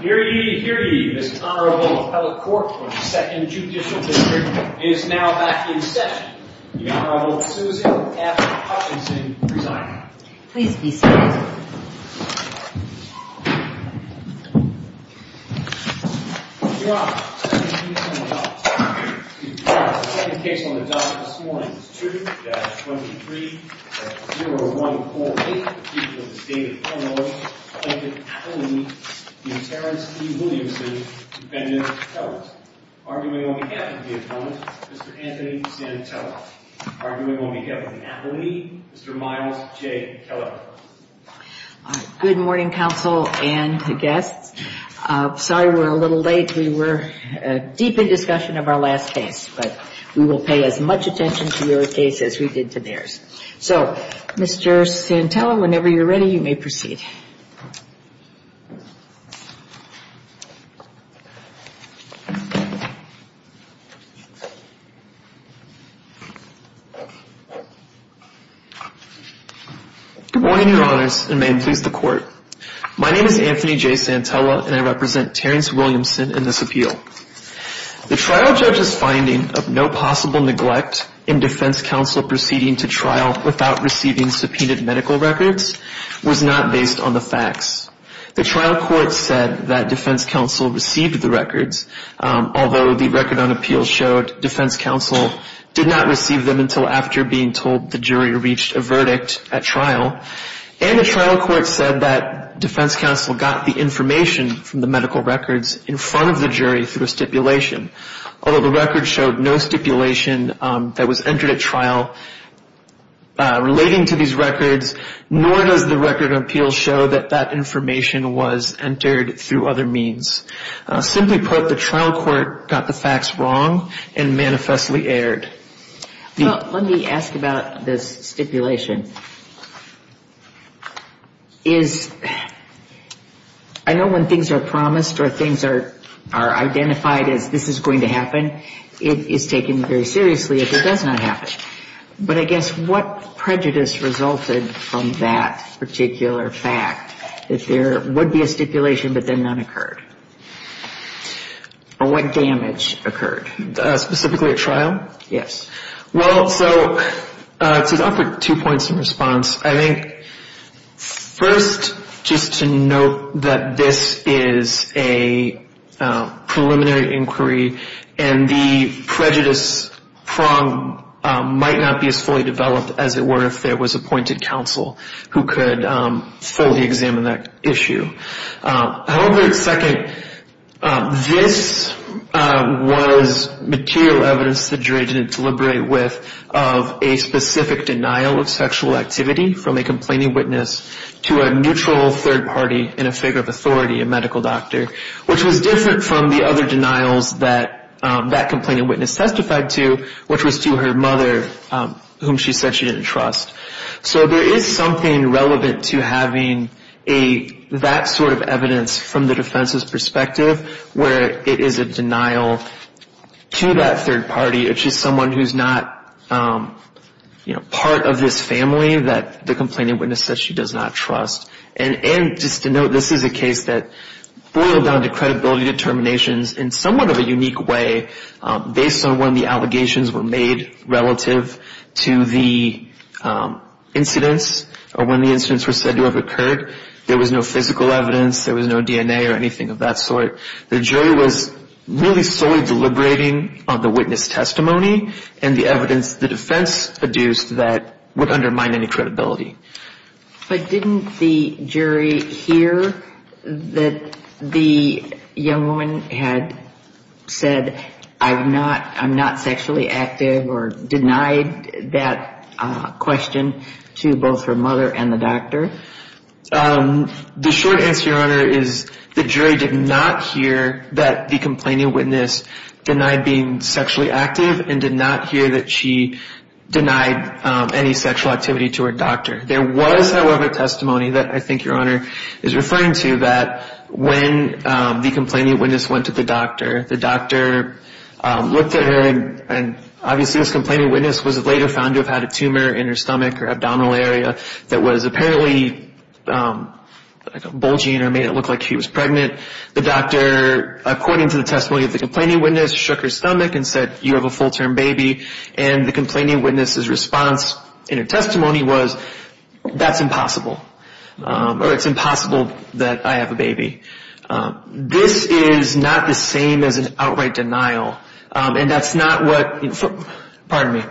Hear ye, hear ye. This Honorable Appellate Court for the Second Judicial District is now back in session. The Honorable Susie F. Hutchinson presiding. Please be seated. Your Honor, let me read some of the documents. Your Honor, the second case on the docket this morning is 2-23-0148. The defendant's name is David Cornwell. The defendant's appellee is Terrence E. Williamson. The defendant is Kellett. Arguing on behalf of the defendant, Mr. Anthony Santella. Arguing on behalf of the appellee, Mr. Miles J. Kellett. Good morning, counsel and guests. Sorry we're a little late. We were deep in discussion of our last case, but we will pay as much attention to your case as we did to theirs. So, Mr. Santella, whenever you're ready, you may proceed. Good morning, Your Honors, and may it please the Court. My name is Anthony J. Santella, and I represent Terrence Williamson in this appeal. The trial judge's finding of no possible neglect in defense counsel proceeding to trial without receiving subpoenaed medical records was not based on the facts. The trial court said that defense counsel received the records, although the record on appeals showed defense counsel did not receive them until after being told the jury reached a verdict at trial. And the trial court said that defense counsel got the information from the medical records in front of the jury through a stipulation, although the record showed no stipulation that was entered at trial relating to these records, nor does the record on appeals show that that information was entered through other means. Simply put, the trial court got the facts wrong and manifestly erred. Well, let me ask about this stipulation. I know when things are promised or things are identified as this is going to happen, it is taken very seriously if it does not happen. But I guess what prejudice resulted from that particular fact, that there would be a stipulation but then none occurred? Or what damage occurred? Specifically at trial? Yes. Well, so to offer two points of response, I think first just to note that this is a preliminary inquiry and the prejudice prong might not be as fully developed as it were if there was appointed counsel who could fully examine that issue. However, second, this was material evidence that the jury didn't deliberate with of a specific denial of sexual activity from a complaining witness to a neutral third party and a figure of authority, a medical doctor, which was different from the other denials that that complaining witness testified to, which was to her mother, whom she said she didn't trust. So there is something relevant to having that sort of evidence from the defense's perspective where it is a denial to that third party, which is someone who's not part of this family that the complaining witness said she does not trust. And just to note, this is a case that boiled down to credibility determinations in somewhat of a unique way based on when the allegations were made relative to the incidents or when the incidents were said to have occurred. There was no physical evidence. There was no DNA or anything of that sort. The jury was really solely deliberating on the witness testimony and the evidence the defense produced that would undermine any credibility. But didn't the jury hear that the young woman had said, I'm not sexually active or denied that question to both her mother and the doctor? The short answer, Your Honor, is the jury did not hear that the complaining witness denied being sexually active and did not hear that she denied any sexual activity to her doctor. There was, however, testimony that I think Your Honor is referring to that when the complaining witness went to the doctor, the doctor looked at her, and obviously this complaining witness was later found to have had a tumor in her stomach or abdominal area that was apparently bulging or made it look like she was pregnant. The doctor, according to the testimony of the complaining witness, shook her stomach and said, You have a full-term baby. And the complaining witness's response in her testimony was, That's impossible. Or it's impossible that I have a baby. This is not the same as an outright denial. And that's not what – pardon me.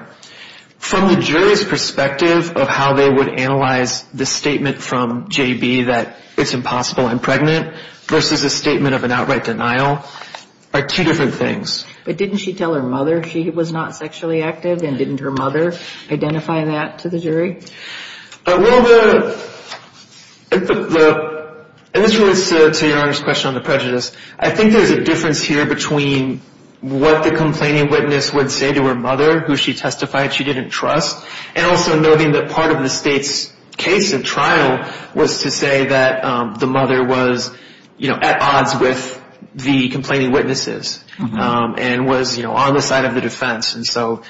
From the jury's perspective of how they would analyze the statement from J.B. that it's impossible I'm pregnant versus a statement of an outright denial are two different things. But didn't she tell her mother she was not sexually active? And didn't her mother identify that to the jury? Well, the – and this relates to Your Honor's question on the prejudice. I think there's a difference here between what the complaining witness would say to her mother, who she testified she didn't trust, and also noting that part of the state's case and trial was to say that the mother was, you know, at odds with the complaining witnesses and was, you know, on the side of the defense. And so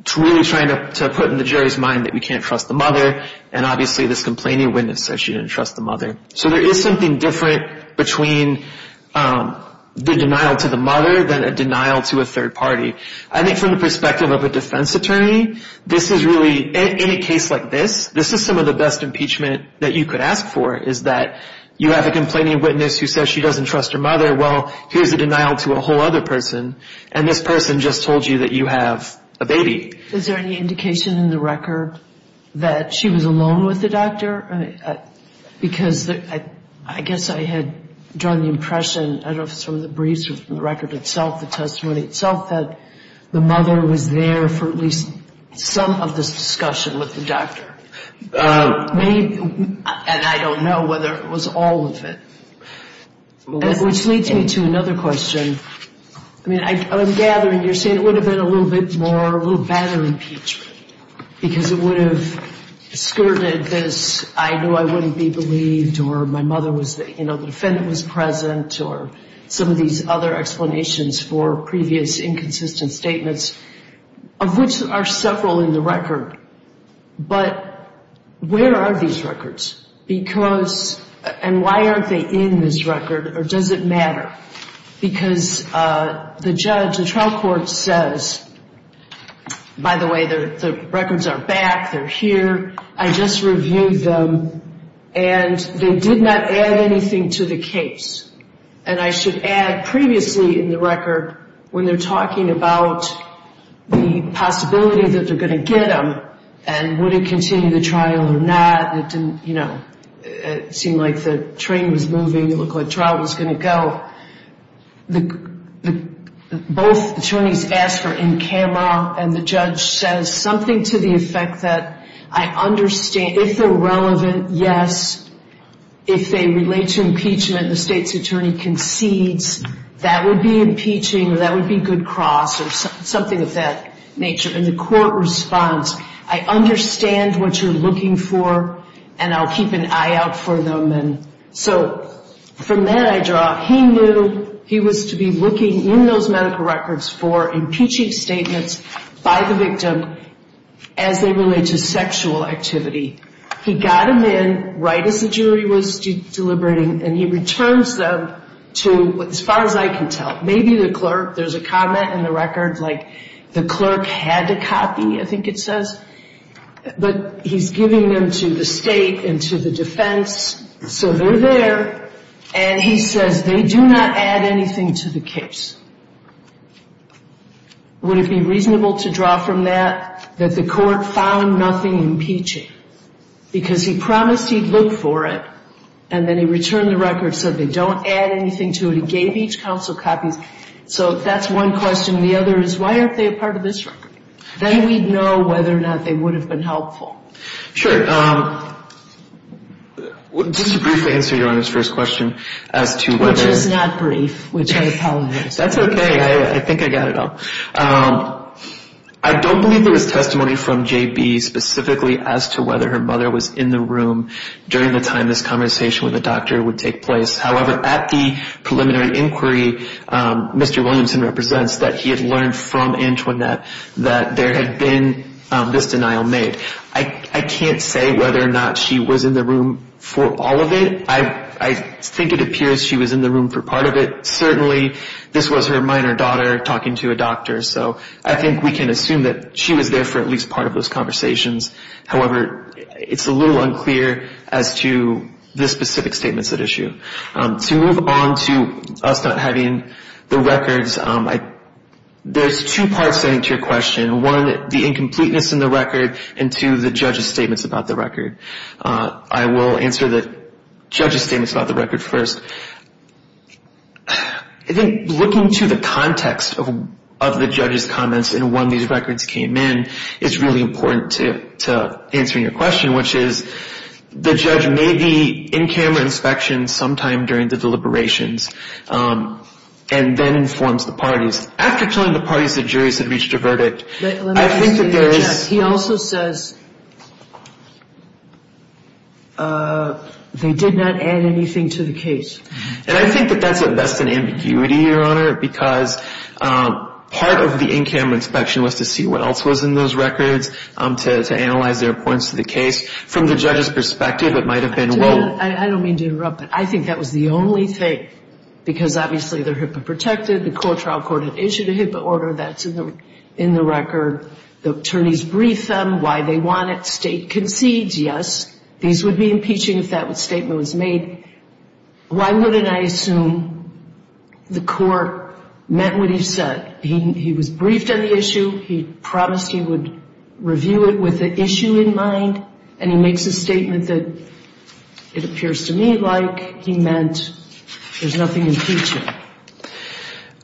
it's really trying to put in the jury's mind that we can't trust the mother, and obviously this complaining witness said she didn't trust the mother. So there is something different between the denial to the mother than a denial to a third party. I think from the perspective of a defense attorney, this is really – in a case like this, this is some of the best impeachment that you could ask for, is that you have a complaining witness who says she doesn't trust her mother. Well, here's a denial to a whole other person, and this person just told you that you have a baby. Is there any indication in the record that she was alone with the doctor? Because I guess I had drawn the impression, I don't know if it's from the briefs or from the record itself, the testimony itself, that the mother was there for at least some of this discussion with the doctor. And I don't know whether it was all of it. Which leads me to another question. I mean, I'm gathering you're saying it would have been a little bit more, a little better impeachment, because it would have skirted this I knew I wouldn't be believed or my mother was, you know, the defendant was present, or some of these other explanations for previous inconsistent statements, of which are several in the record. But where are these records? Because – and why aren't they in this record, or does it matter? Because the judge, the trial court says, by the way, the records are back, they're here, I just reviewed them, and they did not add anything to the case. And I should add, previously in the record, when they're talking about the possibility that they're going to get them and would it continue the trial or not, you know, it seemed like the train was moving, it looked like the trial was going to go, both attorneys asked for in camera, and the judge says something to the effect that I understand, if they're relevant, yes. If they relate to impeachment, the state's attorney concedes, that would be impeaching, or that would be good cross, or something of that nature. And the court responds, I understand what you're looking for, and I'll keep an eye out for them. So from that I draw, he knew he was to be looking in those medical records for impeaching statements by the victim as they relate to sexual activity. He got them in right as the jury was deliberating, and he returns them to, as far as I can tell, maybe the clerk, there's a comment in the record, like the clerk had to copy, I think it says, but he's giving them to the state and to the defense, so they're there, and he says they do not add anything to the case. Would it be reasonable to draw from that that the court found nothing impeaching? Because he promised he'd look for it, and then he returned the record, said they don't add anything to it, he gave each counsel copies, so that's one question. The other is why aren't they a part of this record? Then we'd know whether or not they would have been helpful. Sure. Just to briefly answer Your Honor's first question as to whether... Which is not brief, which I apologize for. That's okay, I think I got it all. I don't believe there was testimony from JB specifically as to whether her mother was in the room during the time this conversation with the doctor would take place. However, at the preliminary inquiry, Mr. Williamson represents that he had learned from Antoinette that there had been this denial made. I can't say whether or not she was in the room for all of it. I think it appears she was in the room for part of it. Certainly this was her minor daughter talking to a doctor, so I think we can assume that she was there for at least part of those conversations. However, it's a little unclear as to the specific statements at issue. To move on to us not having the records, there's two parts to your question. One, the incompleteness in the record, and two, the judge's statements about the record. I will answer the judge's statements about the record first. I think looking to the context of the judge's comments and when these records came in is really important to answering your question, which is the judge made the in-camera inspection sometime during the deliberations and then informs the parties. After telling the parties the jury had reached a verdict, I think that there is – He also says they did not add anything to the case. And I think that that's at best an ambiguity, Your Honor, because part of the in-camera inspection was to see what else was in those records, to analyze their points to the case. From the judge's perspective, it might have been – I don't mean to interrupt, but I think that was the only thing, because obviously they're HIPAA protected. The core trial court had issued a HIPAA order. That's in the record. The attorneys brief them why they want it. State concedes, yes. These would be impeaching if that statement was made. Why wouldn't I assume the court meant what he said? He was briefed on the issue. He promised he would review it with the issue in mind, and he makes a statement that it appears to me like he meant there's nothing impeaching.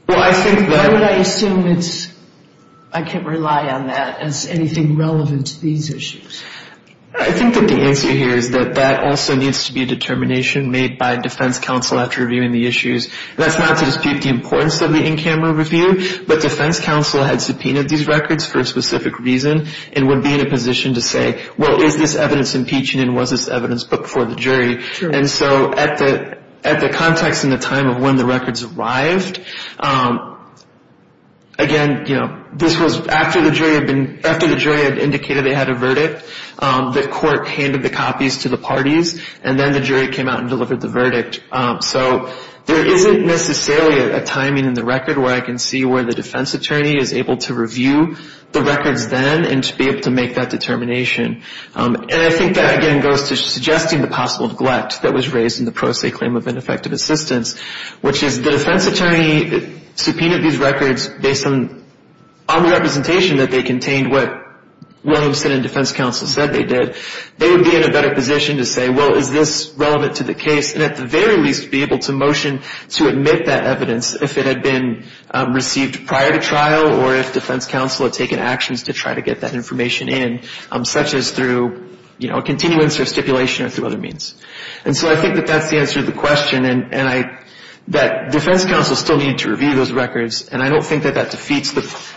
Why would I assume it's – I can't rely on that as anything relevant to these issues. I think that the answer here is that that also needs to be a determination made by defense counsel after reviewing the issues. That's not to dispute the importance of the in-camera review, but defense counsel had subpoenaed these records for a specific reason and would be in a position to say, well, is this evidence impeaching and was this evidence put before the jury? And so at the context and the time of when the records arrived, again, you know, this was after the jury had indicated they had a verdict. The court handed the copies to the parties, and then the jury came out and delivered the verdict. So there isn't necessarily a timing in the record where I can see where the defense attorney is able to review the records then and to be able to make that determination. And I think that, again, goes to suggesting the possible glut that was raised in the pro se claim of ineffective assistance, which is the defense attorney subpoenaed these records based on the representation that they contained what Williamson and defense counsel said they did. They would be in a better position to say, well, is this relevant to the case? And at the very least be able to motion to admit that evidence if it had been received prior to trial or if defense counsel had taken actions to try to get that information in, such as through, you know, a continuance or stipulation or through other means. And so I think that that's the answer to the question, and that defense counsel still needed to review those records, and I don't think that that defeats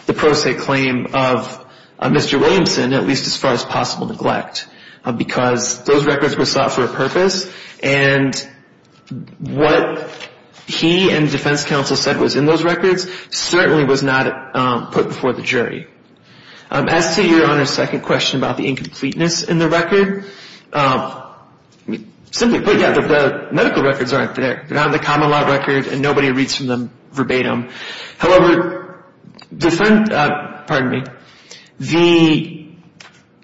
the pro se claim of Mr. Williamson, at least as far as possible neglect, because those records were sought for a purpose and what he and defense counsel said was in those records certainly was not put before the jury. As to Your Honor's second question about the incompleteness in the record, simply put, yeah, the medical records aren't there. They're on the common law record, and nobody reads from them verbatim. However, the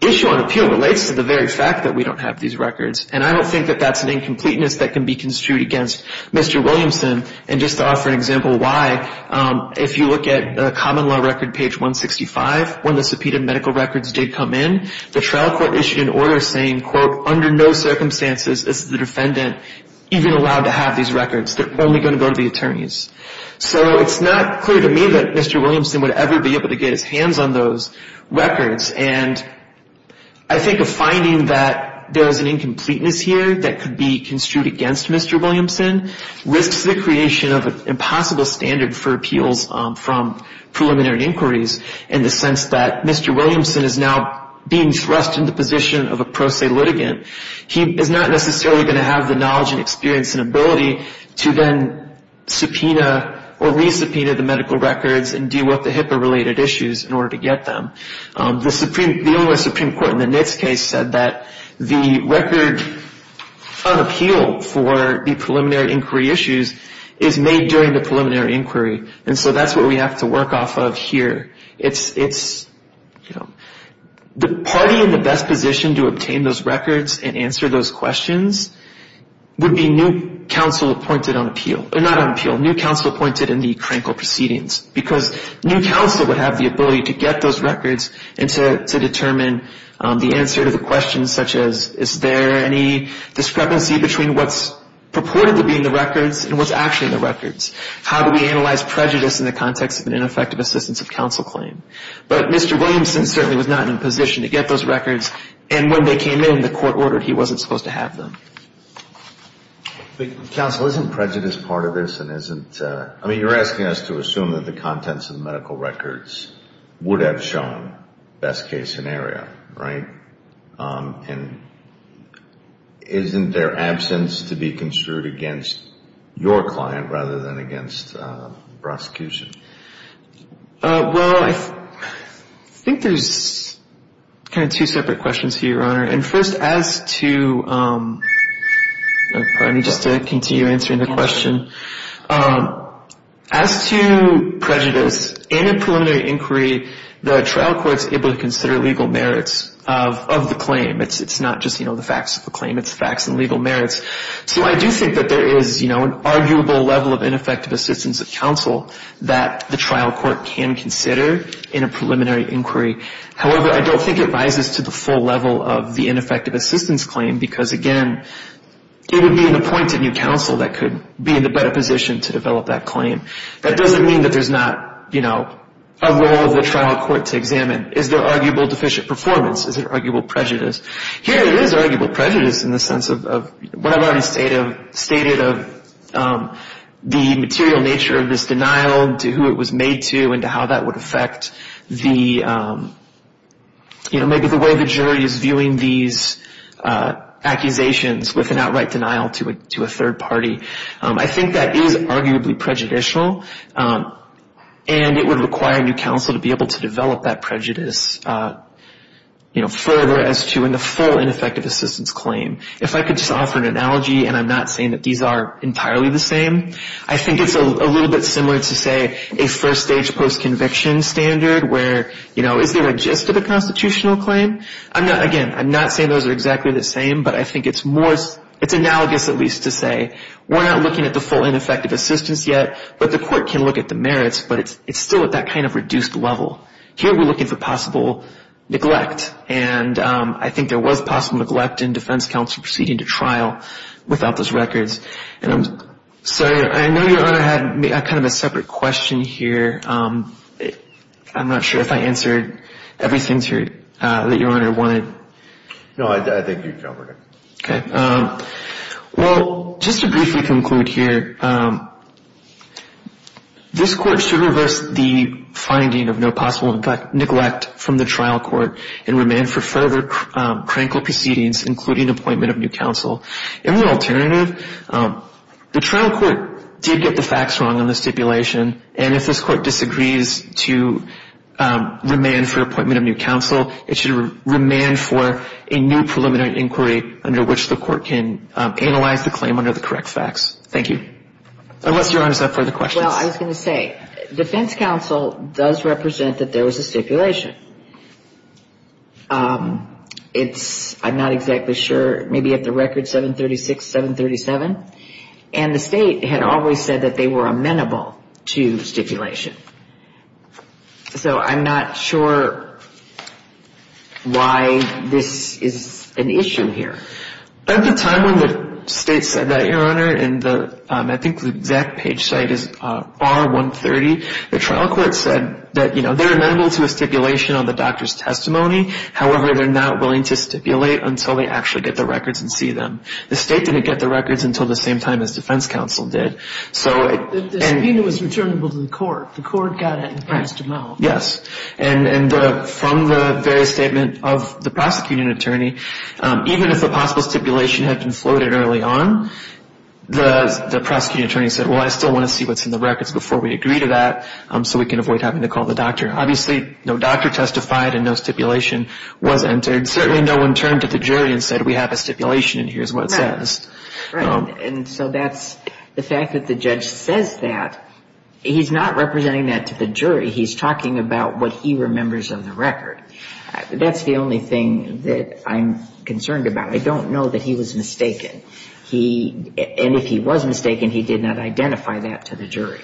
issue on appeal relates to the very fact that we don't have these records, and I don't think that that's an incompleteness that can be construed against Mr. Williamson. And just to offer an example why, if you look at the common law record page 165, when the subpoenaed medical records did come in, the trial court issued an order saying, quote, under no circumstances is the defendant even allowed to have these records. They're only going to go to the attorneys. So it's not clear to me that Mr. Williamson would ever be able to get his hands on those records, and I think a finding that there is an incompleteness here that could be construed against Mr. Williamson risks the creation of an impossible standard for appeals from preliminary inquiries in the sense that Mr. Williamson is now being thrust in the position of a pro se litigant. He is not necessarily going to have the knowledge and experience and ability to then subpoena or resubpoena the medical records and deal with the HIPAA-related issues in order to get them. The Illinois Supreme Court in the NITS case said that the record on appeal for the preliminary inquiry issues is made during the preliminary inquiry, and so that's what we have to work off of here. It's, you know, the party in the best position to obtain those records and answer those questions would be new counsel appointed on appeal. Not on appeal, new counsel appointed in the Krankel proceedings, because new counsel would have the ability to get those records and to determine the answer to the questions such as is there any discrepancy between what's purported to be in the records and what's actually in the records? How do we analyze prejudice in the context of an ineffective assistance of counsel claim? But Mr. Williamson certainly was not in a position to get those records, and when they came in the court ordered he wasn't supposed to have them. Counsel, isn't prejudice part of this? I mean, you're asking us to assume that the contents of the medical records would have shown best case scenario, right? And isn't there absence to be construed against your client rather than against prosecution? Well, I think there's kind of two separate questions here, Your Honor. And first, as to ‑‑ pardon me, just to continue answering the question. As to prejudice, in a preliminary inquiry, the trial court is able to consider legal merits of the claim. It's not just, you know, the facts of the claim, it's facts and legal merits. So I do think that there is, you know, an arguable level of ineffective assistance of counsel that the trial court can consider in a preliminary inquiry. However, I don't think it rises to the full level of the ineffective assistance claim, because, again, it would be an appointed new counsel that could be in a better position to develop that claim. That doesn't mean that there's not, you know, a role of the trial court to examine. Is there arguable deficient performance? Is there arguable prejudice? Here it is arguable prejudice in the sense of what I've already stated of the material nature of this denial, to who it was made to, and to how that would affect the, you know, maybe the way the jury is viewing these accusations with an outright denial to a third party. I think that is arguably prejudicial, and it would require a new counsel to be able to develop that prejudice, you know, further as to in the full ineffective assistance claim. If I could just offer an analogy, and I'm not saying that these are entirely the same, I think it's a little bit similar to, say, a first-stage post-conviction standard where, you know, is there a gist of a constitutional claim? Again, I'm not saying those are exactly the same, but I think it's analogous at least to say we're not looking at the full ineffective assistance yet, but the court can look at the merits, but it's still at that kind of reduced level. Here we're looking for possible neglect, and I think there was possible neglect in defense counsel proceeding to trial without those records, and I'm sorry, I know Your Honor had kind of a separate question here. I'm not sure if I answered everything that Your Honor wanted. No, I think you covered it. Okay. Well, just to briefly conclude here, this court should reverse the finding of no possible neglect from the trial court and remand for further critical proceedings, including appointment of new counsel. In the alternative, the trial court did get the facts wrong on the stipulation, and if this court disagrees to remand for appointment of new counsel, it should remand for a new preliminary inquiry under which the court can analyze the claim under the correct facts. Thank you. Unless Your Honor has further questions. Well, I was going to say, defense counsel does represent that there was a stipulation. It's, I'm not exactly sure, maybe at the record 736, 737, and the state had always said that they were amenable to stipulation. So I'm not sure why this is an issue here. At the time when the state said that, Your Honor, and I think the exact page site is bar 130, the trial court said that they're amenable to a stipulation on the doctor's testimony. However, they're not willing to stipulate until they actually get the records and see them. The state didn't get the records until the same time as defense counsel did. The subpoena was returnable to the court. The court got it and passed them out. Yes. And from the very statement of the prosecuting attorney, even if a possible stipulation had been floated early on, the prosecuting attorney said, well, I still want to see what's in the records before we agree to that, so we can avoid having to call the doctor. Obviously, no doctor testified and no stipulation was entered. Certainly no one turned to the jury and said, we have a stipulation and here's what it says. Right. And so that's, the fact that the judge says that, he's not representing that to the jury. He's talking about what he remembers of the record. That's the only thing that I'm concerned about. I don't know that he was mistaken. He, and if he was mistaken, he did not identify that to the jury.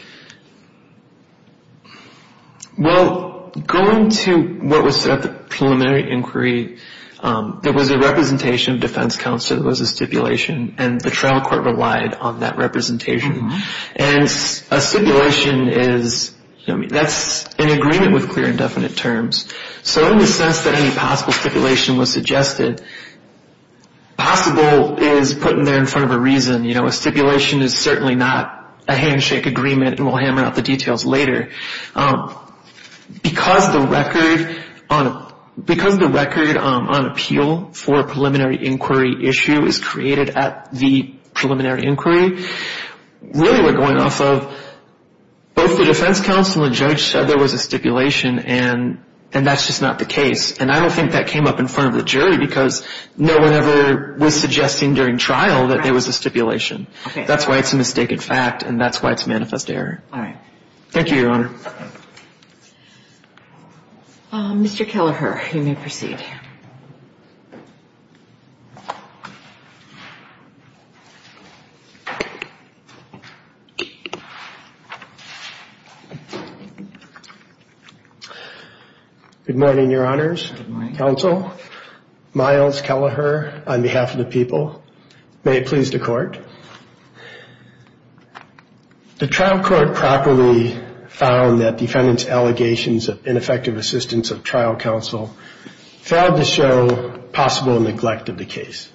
Well, going to what was preliminary inquiry, there was a representation of defense counsel. It was a stipulation, and the trial court relied on that representation. And a stipulation is, that's an agreement with clear and definite terms. So in the sense that any possible stipulation was suggested, possible is put in there in front of a reason. A stipulation is certainly not a handshake agreement, and we'll hammer out the details later. Because the record on appeal for a preliminary inquiry issue is created at the preliminary inquiry, really we're going off of both the defense counsel and judge said there was a stipulation, and that's just not the case. And I don't think that came up in front of the jury because no one ever was suggesting during trial that there was a stipulation. That's why it's a mistaken fact, and that's why it's manifest error. All right. Thank you, Your Honor. Mr. Kelleher, you may proceed. Good morning, Your Honors. Good morning. Counsel, Myles Kelleher on behalf of the people. May it please the court. The trial court properly found that defendant's allegations of ineffective assistance of trial counsel failed to show possible neglect of the case.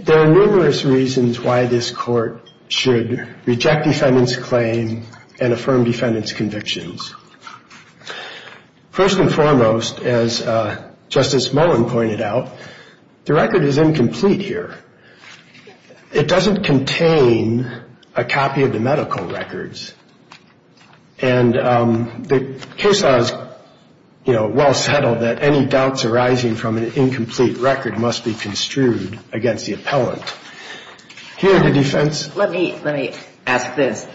There are numerous reasons why this court should reject defendant's claim and affirm defendant's convictions. First and foremost, as Justice Mullen pointed out, the record is incomplete here. It doesn't contain a copy of the medical records. And the case law is, you know, well settled that any doubts arising from an incomplete record must be construed against the appellant. Here in the defense. Let me ask this.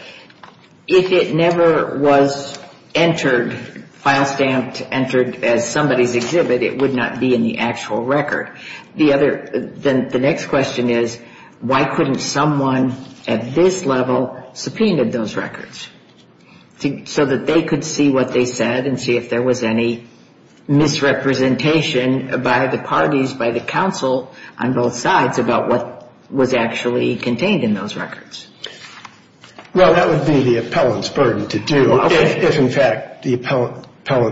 If it never was entered, file stamped entered as somebody's exhibit, it would not be in the actual record. The next question is, why couldn't someone at this level subpoenaed those records? So that they could see what they said and see if there was any misrepresentation by the parties, by the counsel on both sides about what was actually contained in those records. Well, that would be the appellant's burden to do, if in fact the appellant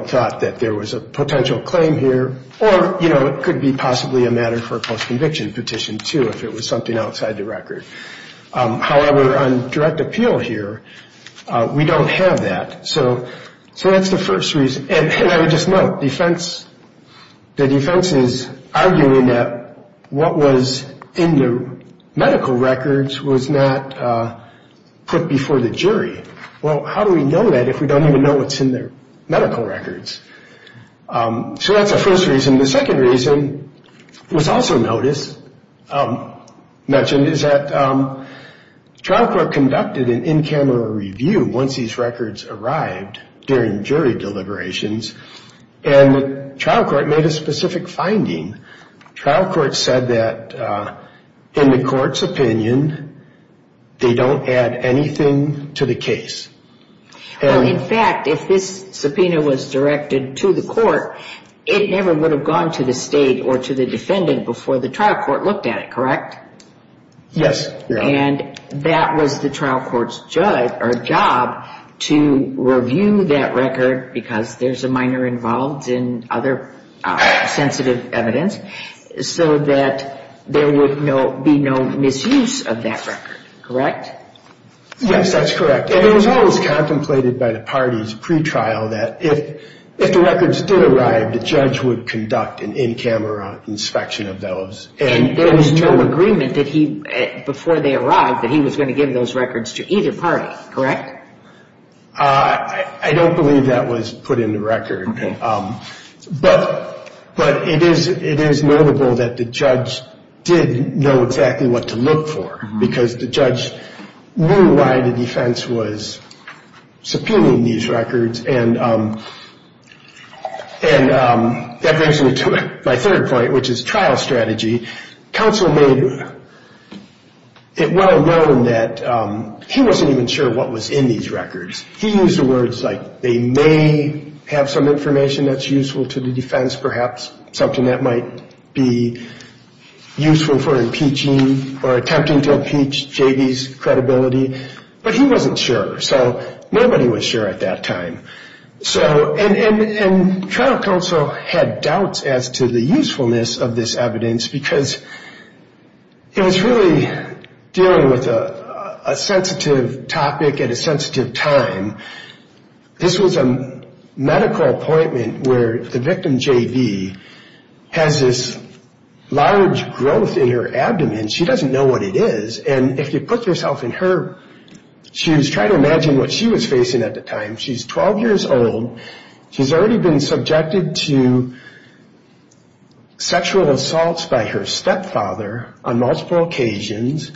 thought that there was a potential claim here. Or, you know, it could be possibly a matter for a post-conviction petition, too, if it was something outside the record. However, on direct appeal here, we don't have that. So that's the first reason. And I would just note, the defense is arguing that what was in the medical records was not put before the jury. Well, how do we know that if we don't even know what's in the medical records? So that's the first reason. The second reason was also mentioned, is that trial court conducted an in-camera review once these records arrived during jury deliberations. And trial court made a specific finding. Trial court said that in the court's opinion, they don't add anything to the case. Well, in fact, if this subpoena was directed to the court, it never would have gone to the state or to the defendant before the trial court looked at it, correct? Yes. And that was the trial court's job to review that record, because there's a minor involved in other sensitive evidence, so that there would be no misuse of that record, correct? Yes, that's correct. And it was always contemplated by the parties pre-trial that if the records did arrive, the judge would conduct an in-camera inspection of those. And there was no agreement before they arrived that he was going to give those records to either party, correct? I don't believe that was put in the record. But it is notable that the judge did know exactly what to look for, because the judge knew why the defense was subpoenaing these records. And that brings me to my third point, which is trial strategy. Counsel made it well known that he wasn't even sure what was in these records. He used words like they may have some information that's useful to the defense, perhaps something that might be useful for impeaching or attempting to impeach J.B.'s credibility. But he wasn't sure, so nobody was sure at that time. And trial counsel had doubts as to the usefulness of this evidence, because it was really dealing with a sensitive topic at a sensitive time. This was a medical appointment where the victim J.B. has this large growth in her abdomen. She doesn't know what it is, and if you put yourself in her shoes, try to imagine what she was facing at the time. She's 12 years old. She's already been subjected to sexual assaults by her stepfather on multiple occasions.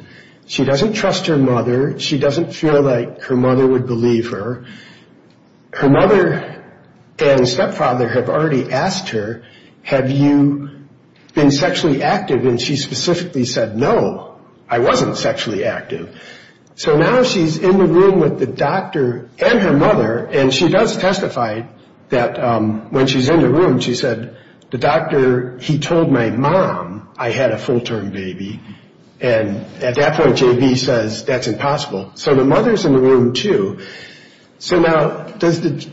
She doesn't trust her mother. She doesn't feel like her mother would believe her. Her mother and stepfather have already asked her, have you been sexually active? And she specifically said, no, I wasn't sexually active. So now she's in the room with the doctor and her mother, and she does testify that when she's in the room, she said, the doctor, he told my mom I had a full-term baby. And at that point, J.B. says, that's impossible. So the mother's in the room, too. So now, does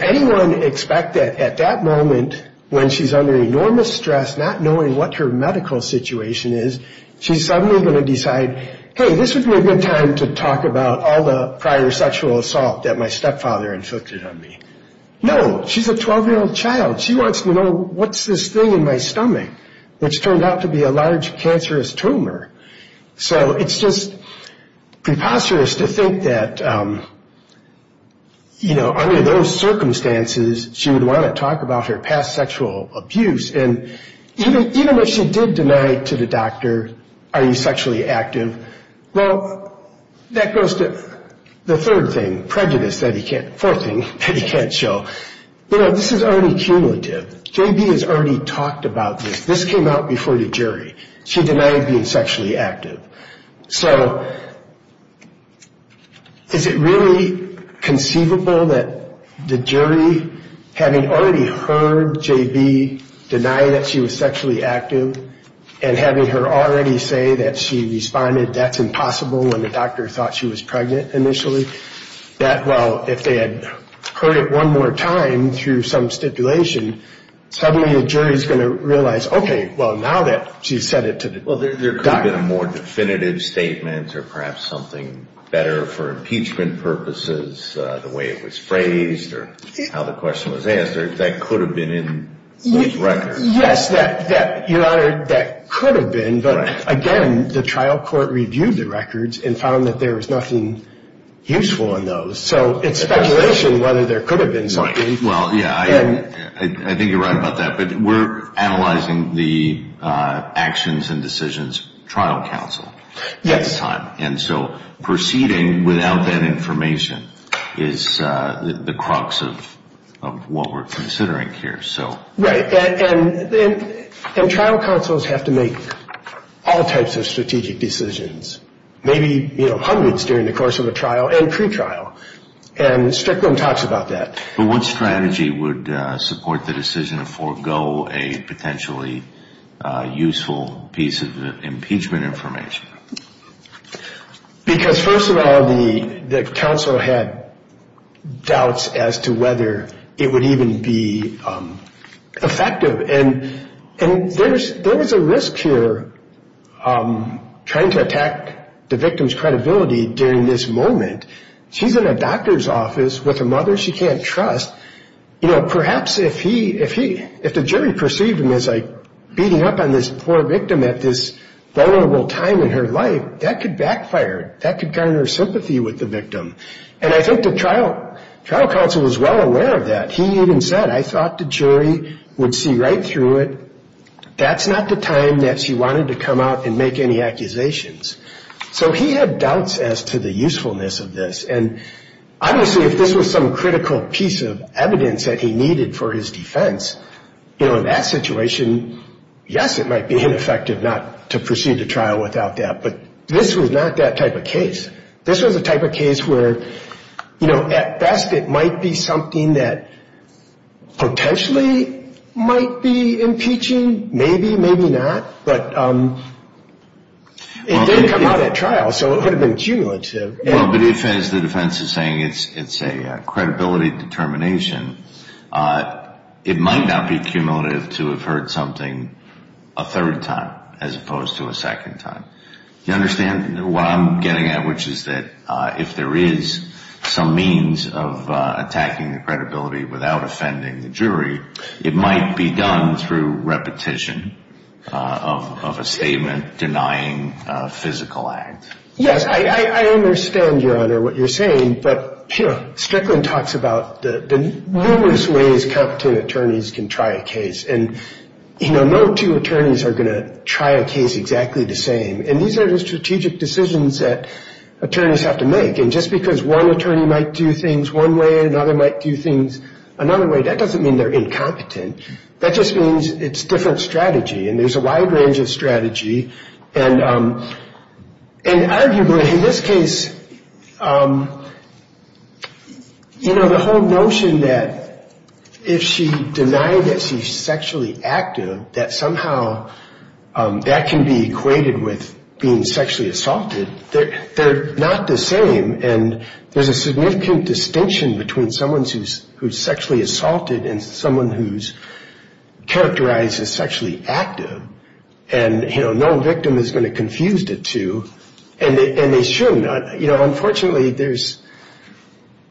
anyone expect that at that moment, when she's under enormous stress, not knowing what her medical situation is, she's suddenly going to decide, hey, this would be a good time to talk about all the prior sexual assault that my stepfather inflicted on me. No, she's a 12-year-old child. She wants to know what's this thing in my stomach that's turned out to be a large cancerous tumor. So it's just preposterous to think that, you know, under those circumstances, she would want to talk about her past sexual abuse. And even if she did deny to the doctor, are you sexually active, well, that goes to the third thing, prejudice. That he can't, fourth thing, that he can't show. You know, this is already cumulative. J.B. has already talked about this. This came out before the jury. She denied being sexually active. So is it really conceivable that the jury, having already heard J.B. deny that she was sexually active, and having her already say that she responded, that's impossible, when the doctor thought she was pregnant, initially, that, well, I don't know. If they had heard it one more time through some stipulation, suddenly the jury is going to realize, okay, well, now that she's said it to the doctor. Well, there could have been a more definitive statement, or perhaps something better for impeachment purposes, the way it was phrased, or how the question was asked. That could have been in these records. So it's speculation whether there could have been something. Well, yeah, I think you're right about that. But we're analyzing the actions and decisions of trial counsel at this time. And so proceeding without that information is the crux of what we're considering here. Right. And trial counsels have to make all types of strategic decisions. Maybe, you know, hundreds during the course of a trial and pre-trial. And Strickland talks about that. But what strategy would support the decision to forego a potentially useful piece of impeachment information? Because, first of all, the counsel had doubts as to whether it would even be effective. And there was a risk here trying to attack the victim's credibility during this moment. She's in a doctor's office with a mother she can't trust. You know, perhaps if the jury perceived him as, like, beating up on this poor victim at this vulnerable time in her life, that could backfire. That could garner sympathy with the victim. And I think the trial counsel was well aware of that. He even said, I thought the jury would see right through it. That's not the time that she wanted to come out and make any accusations. So he had doubts as to the usefulness of this. And obviously if this was some critical piece of evidence that he needed for his defense, you know, in that situation, yes, it might be ineffective not to proceed to trial without that. But this was not that type of case. This was a type of case where, you know, at best it might be something that potentially might be impeaching. Maybe, maybe not. But it did come out at trial. So it would have been cumulative. Well, but as the defense is saying, it's a credibility determination. It might not be cumulative to have heard something a third time as opposed to a second time. You understand what I'm getting at, which is that if there is some means of attacking the credibility without offending the jury, it might be done through repetition of a statement denying a physical act. Yes, I understand, Your Honor, what you're saying, but Strickland talks about the numerous ways competent attorneys can try a case. And, you know, no two attorneys are going to try a case exactly the same. And these are the strategic decisions that attorneys have to make. And just because one attorney might do things one way and another might do things another way, that doesn't mean they're incompetent. That just means it's different strategy, and there's a wide range of strategy. And arguably, in this case, you know, the whole notion that if she denied that she's sexually active, that somehow that can be equated with being sexually assaulted, they're not the same. And there's a significant distinction between someone who's sexually assaulted and someone who's characterized as sexually active. And, you know, no victim is going to confuse the two, and they shouldn't. You know, unfortunately, there's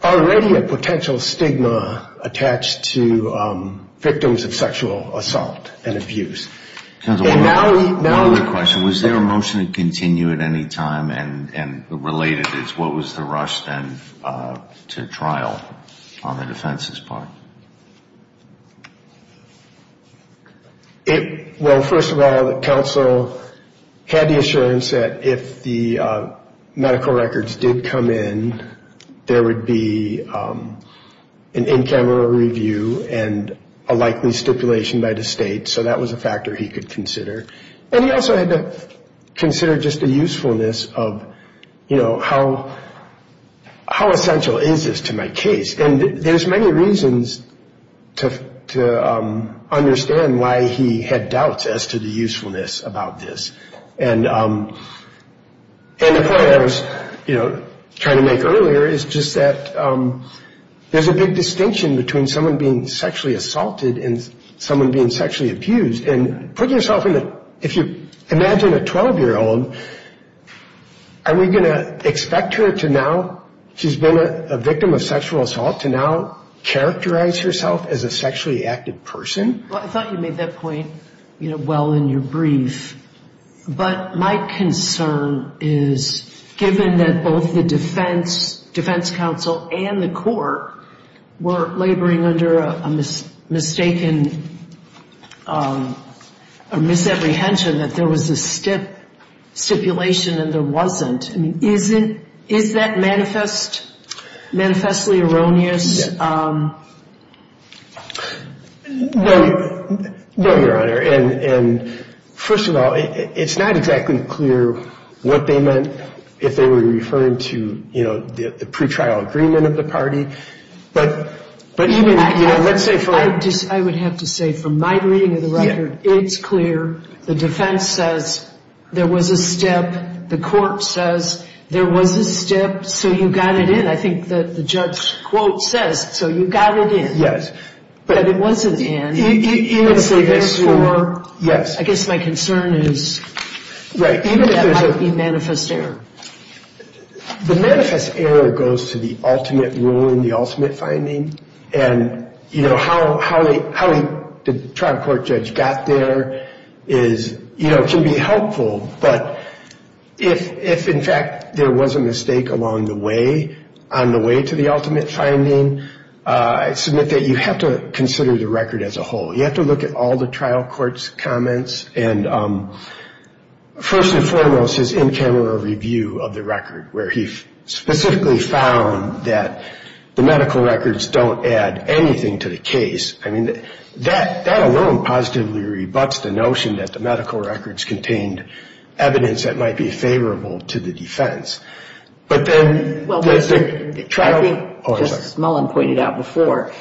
already a potential stigma attached to victims of sexual assault and abuse. One other question, was there a motion to continue at any time? And related is what was the rush then to trial on the defense's part? Well, first of all, the counsel had the assurance that if the medical records did come in, there would be an in-camera review and a likely stipulation by the state. So that was a factor he could consider, and he also had to consider just the usefulness of, you know, how essential is this to my case? And there's many reasons to understand why he had doubts as to the usefulness about this. And the point I was, you know, trying to make earlier is just that there's a big distinction between someone being sexually assaulted and someone being sexually abused. And put yourself in the, if you imagine a 12-year-old, are we going to expect her to now, she's been a victim of sexual assault, to now characterize herself as a sexually active person? Well, I thought you made that point, you know, well in your brief. But my concern is, given that both the defense, defense counsel and the court were laboring under a mistaken, you know, misapprehension that there was a stipulation and there wasn't, I mean, is it, is that manifestly erroneous? No, no, Your Honor. And first of all, it's not exactly clear what they meant if they were referring to, you know, the pretrial agreement of the party. But even, you know, let's say for... I would have to say from my reading of the record, it's clear, the defense says there was a stip, the court says there was a stip, so you got it in. I think the judge's quote says, so you got it in. Yes. But it wasn't in. I guess my concern is, even that might be manifest error. The manifest error goes to the ultimate rule in the ultimate finding. And, you know, how the trial court judge got there is, you know, can be helpful. But if, in fact, there was a mistake along the way, on the way to the ultimate finding, I submit that you have to consider the record as a whole. You have to look at all the trial court's comments and, first and foremost, his in-camera review of the record, where he specifically found that the medical records don't add anything to the case. I mean, that alone positively rebuts the notion that the medical records contained evidence that might be favorable to the defense. But then... Just as Mullin pointed out before,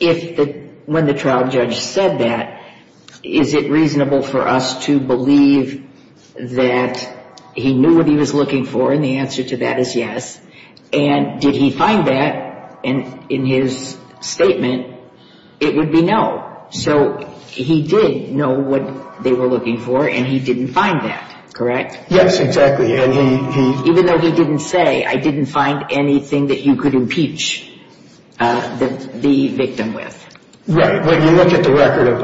when the trial judge said that, is it reasonable for us to believe that he knew what he was looking for and the answer to that is yes? And did he find that in his statement, it would be no. So he did know what they were looking for and he didn't find that, correct? Yes, exactly. Even though he didn't say, I didn't find anything that you could impeach the victim with. Right. When you look at the record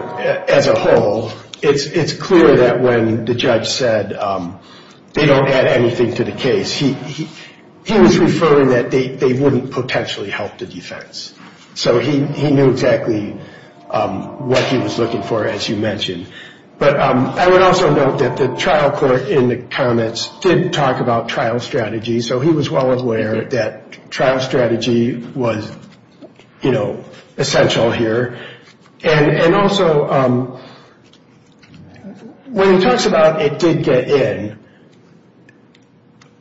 as a whole, it's clear that when the judge said they don't add anything to the case, he was referring that they wouldn't potentially help the defense. So he knew exactly what he was looking for, as you mentioned. But I would also note that the trial court in the comments did talk about trial strategy. So he was well aware that trial strategy was, you know, essential here. And also, when he talks about it did get in,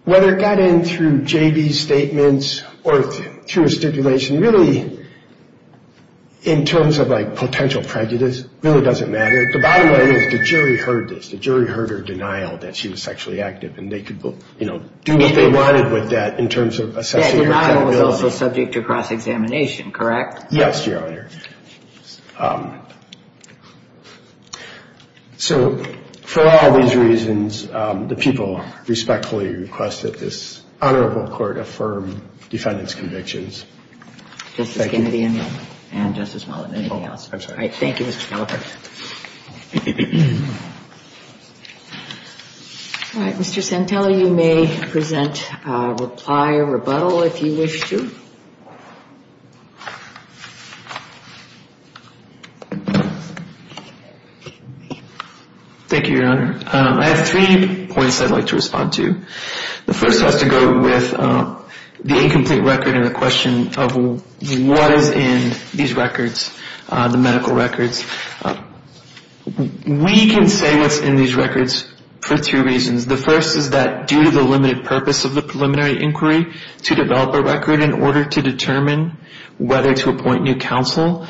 whether it got in through J.B.'s statements or through a stipulation, really, he didn't know. He knew the jury heard her denial that she was sexually active and they could do what they wanted with that in terms of assessing her credibility. Yeah, denial was also subject to cross-examination, correct? Yes, Your Honor. So for all these reasons, the people respectfully request that this Honorable Court affirm defendant's convictions. Justice Kennedy and Justice Mullen, anything else? I'm sorry. All right. Mr. Santella, you may present a reply or rebuttal if you wish to. Thank you, Your Honor. I have three points I'd like to respond to. The first has to go with the incomplete record and the question of what is in these records, the medical records. We can say what's in these records for two reasons. The first is that due to the limited purpose of the preliminary inquiry to develop a record in order to determine whether to appoint new counsel,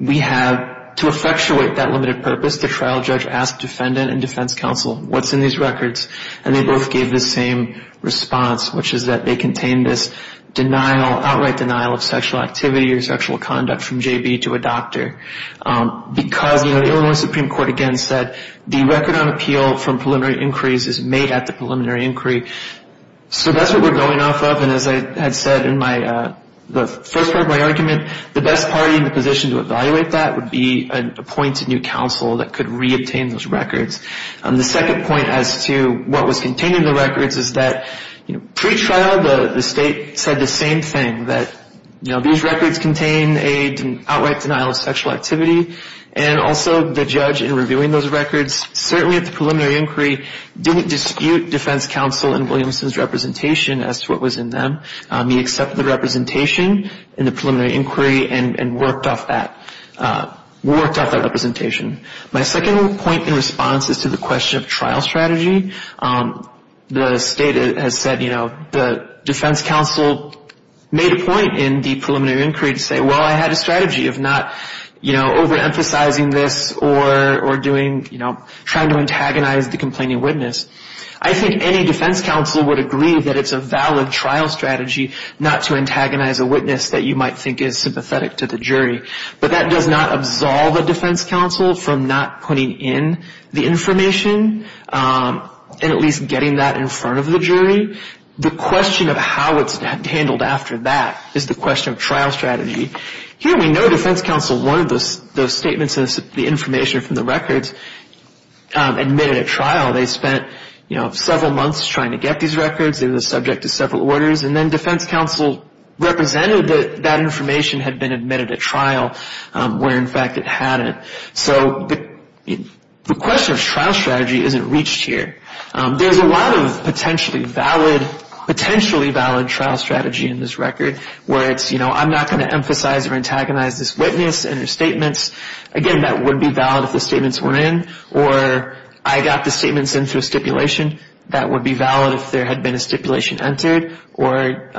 we have to effectuate that limited purpose, the trial judge asked defendant and defense counsel, what's in these records? And they both gave the same response, which is that they contain this denial, outright denial of sexual activity or sexual conduct from J.B. to a doctor. Because the Illinois Supreme Court again said the record on appeal from preliminary inquiries is made at the preliminary inquiry. So that's what we're going off of. And as I had said in the first part of my argument, the best party in the position to evaluate that would be an appointed new counsel that could reobtain those records. The second point as to what was contained in the records is that pre-trial the state said the same thing, that these records contain an outright denial of sexual activity and also the judge in reviewing those records certainly at the preliminary inquiry didn't dispute defense counsel and Williamson's representation as to what was in them. He accepted the representation in the preliminary inquiry and worked off that representation. My second point in response is to the question of trial strategy. The state has said, you know, the defense counsel made a point in the preliminary inquiry to say, well, I had a strategy of not, you know, overemphasizing this or doing, you know, trying to antagonize the complaining witness. I think any defense counsel would agree that it's a valid trial strategy not to antagonize a witness that you might think is sympathetic to the jury. But that does not absolve a defense counsel from not putting in the information. And at least getting that in front of the jury. The question of how it's handled after that is the question of trial strategy. Here we know defense counsel wanted those statements and the information from the records admitted at trial. They spent, you know, several months trying to get these records. They were subject to several orders and then defense counsel represented that that information had been admitted at trial where in fact it hadn't. So the question of trial strategy isn't reached here. There's a lot of potentially valid trial strategy in this record where it's, you know, I'm not going to emphasize or antagonize this witness and her statements. Again, that would be valid if the statements were in or I got the statements into a stipulation. That would be valid if there had been a stipulation entered or,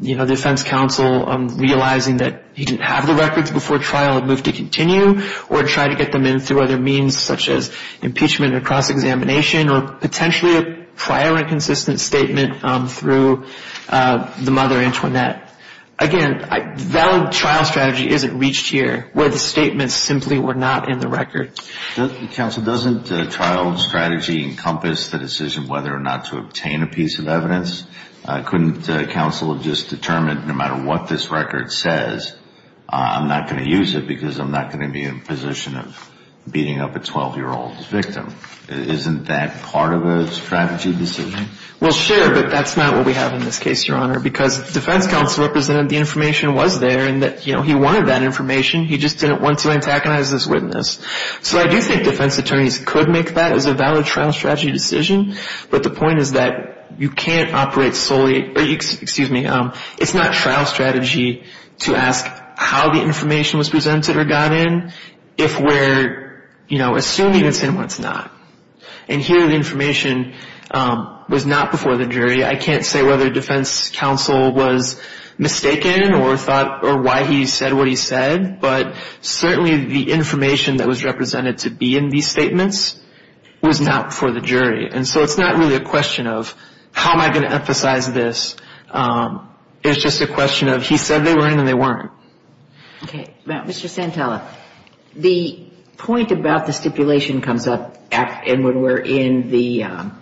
you know, defense counsel realizing that he didn't have the records before trial and moved to continue. Or try to get them in through other means such as impeachment or cross-examination or potentially a prior inconsistent statement through the mother Antoinette. Again, valid trial strategy isn't reached here where the statements simply were not in the record. Counsel, doesn't trial strategy encompass the decision whether or not to obtain a piece of evidence? Couldn't counsel have just determined no matter what this record says, I'm not going to use it because I'm not going to be in a position of beating up a 12-year-old's victim? Isn't that part of a strategy decision? Well, sure, but that's not what we have in this case, Your Honor, because defense counsel represented the information was there and that, you know, he wanted that information. He just didn't want to antagonize this witness. So I do think defense attorneys could make that as a valid trial strategy decision, but the point is that you can't operate solely, excuse me, it's not trial strategy to ask how the information was presented or got in if we're, you know, assuming it's in what's not. And here the information was not before the jury. I can't say whether defense counsel was mistaken or thought or why he said what he said, but certainly the information that was represented to be in these statements was not before the jury. And so it's not really a question of how am I going to emphasize this. It's just a question of he said they were in and they weren't. Okay. Now, Mr. Santella, the point about the stipulation comes up and when we're in the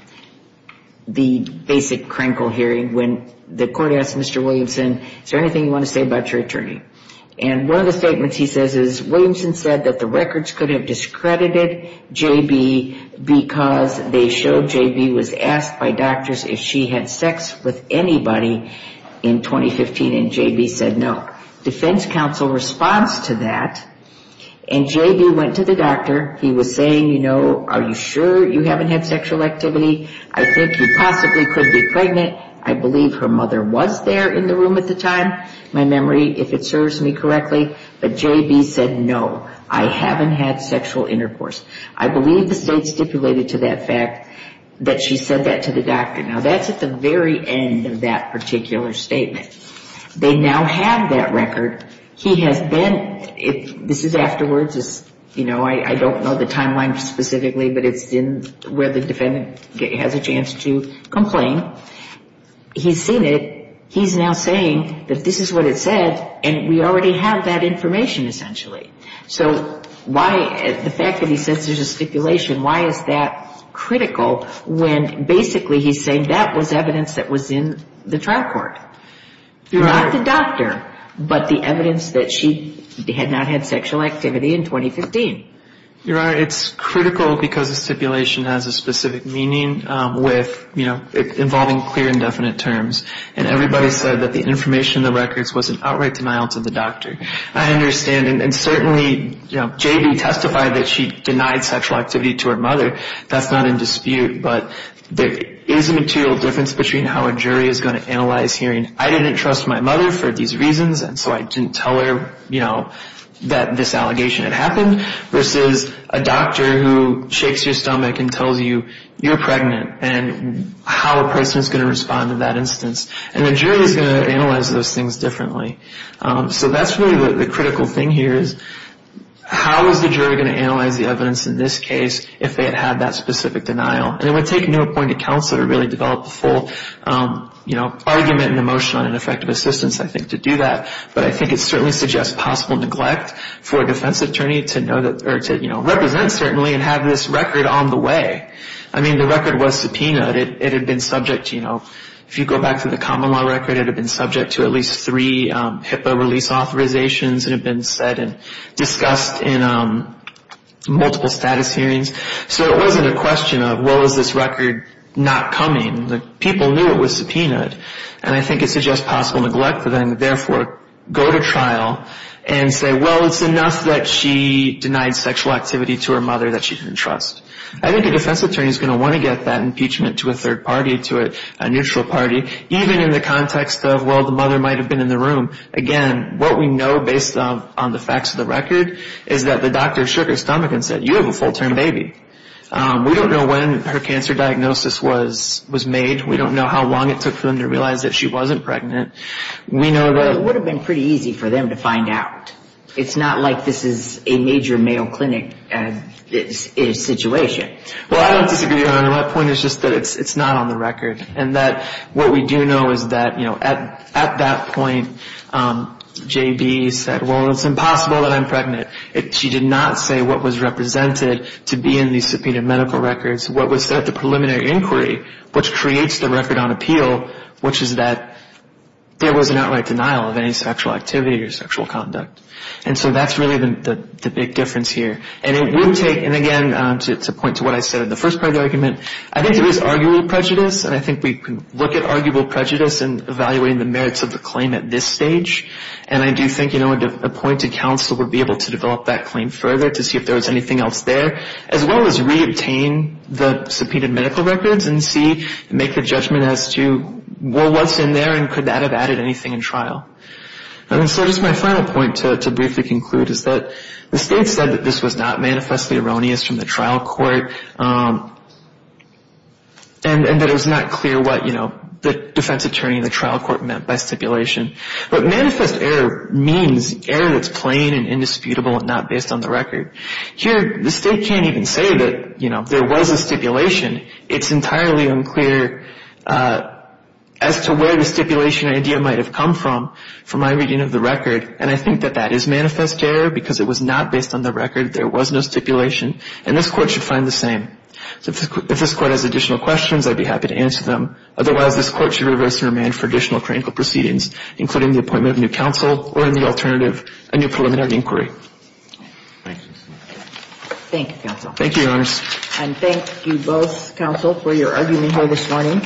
basic Krenkel hearing when the court asked Mr. Williamson, is there anything you want to say about your attorney? And one of the statements he says is Williamson said that the records could have discredited J.B. because they showed J.B. was asked by doctors if she had sex with anybody in 2015 and J.B. said no. And the defense counsel responds to that and J.B. went to the doctor. He was saying, you know, are you sure you haven't had sexual activity? I think you possibly could be pregnant. I believe her mother was there in the room at the time. My memory, if it serves me correctly. But J.B. said no. I haven't had sexual intercourse. I believe the state stipulated to that fact that she said that to the doctor. Now, that's at the very end of that particular statement. They now have that record. He has been, this is afterwards, you know, I don't know the timeline specifically, but it's where the defendant has a chance to complain. He's seen it. He's now saying that this is what it said and we already have that information essentially. So why, the fact that he says there's a stipulation, why is that critical when basically he's saying that was evidence that was in the trial court. Not the doctor, but the evidence that she had not had sexual activity in 2015. Your Honor, it's critical because the stipulation has a specific meaning with, you know, involving clear and definite terms. And everybody said that the information in the records was an outright denial to the doctor. I understand. And certainly, you know, J.B. testified that she denied sexual activity to her mother. That's not in dispute. But there is a material difference between how a jury is going to analyze hearing, I didn't trust my mother for these reasons and so I didn't tell her, you know, that this allegation had happened. But I think it's critical because it's a very specific case. It's a very specific case versus a doctor who shakes your stomach and tells you you're pregnant and how a person is going to respond to that instance. And the jury is going to analyze those things differently. So that's really the critical thing here is how is the jury going to analyze the evidence in this case if they had had that specific denial. And it would take no appointed counsel to really develop the full, you know, argument and emotion on an effective assistance, I think, to do that. But I think it certainly suggests possible neglect for a defense attorney to know that, or a defense attorney to know that, you know, this is a case that's going to have to be reviewed. to, you know, represent certainly and have this record on the way. I mean, the record was subpoenaed. It had been subject, you know, if you go back to the common law record, it had been subject to at least three HIPAA release authorizations. It had been said and discussed in multiple status hearings. So it wasn't a question of was this record not coming. People knew it was subpoenaed. And I think it suggests possible neglect. But then, therefore, go to trial and say, well, it's enough that she denied sexual activity to her mother that she didn't trust. I think a defense attorney is going to want to get that impeachment to a third party, to a neutral party, even in the context of, well, the mother might have been in the room. Again, what we know based on the facts of the record is that the doctor shook her stomach and said, you have a full-term baby. We don't know when her cancer diagnosis was made. We don't know how long it took for them to realize that she wasn't pregnant. We know that it would have been pretty easy for them to find out. It's not like this is a major male clinic situation. Well, I don't disagree, Your Honor. My point is just that it's not on the record. And that what we do know is that, you know, at that point, J.B. said, well, it's impossible that I'm pregnant. She did not say what was represented to be in these subpoenaed medical records. What was set at the preliminary inquiry, which creates the record on appeal, which is that there was an outright denial of any sexual activity or sexual conduct. And so that's really the big difference here. And it would take, and again, to point to what I said in the first part of the argument, I think there is arguable prejudice, and I think we can look at arguable prejudice and evaluating the merits of the claim at this stage. And I do think, you know, an appointed counsel would be able to develop that claim further to see if there was anything else there, as well as re-obtain the subpoenaed medical records and see, make a judgment as to, well, what's in there and could that have added anything in trial. And so just my final point to briefly conclude is that the state said that this was not manifestly erroneous from the trial court. And that it was not clear what, you know, the defense attorney in the trial court meant by stipulation. But manifest error means error that's plain and indisputable and not based on the record. Here, the state can't even say that, you know, there was a stipulation. It's entirely unclear as to where the stipulation idea might have come from, from my reading of the record. And I think that that is manifest error because it was not based on the record. There was no stipulation. And this Court should find the same. So if this Court has additional questions, I'd be happy to answer them. Otherwise, this Court should reverse and remand for additional critical proceedings, including the appointment of a new counsel or, in the alternative, a new preliminary inquiry. Thank you, counsel. And thank you both, counsel, for your argument here this morning.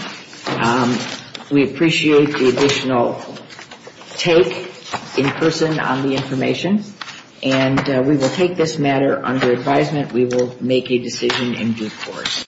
We appreciate the additional take in person on the information. And we will take this matter under advisement. We will make a decision in due course.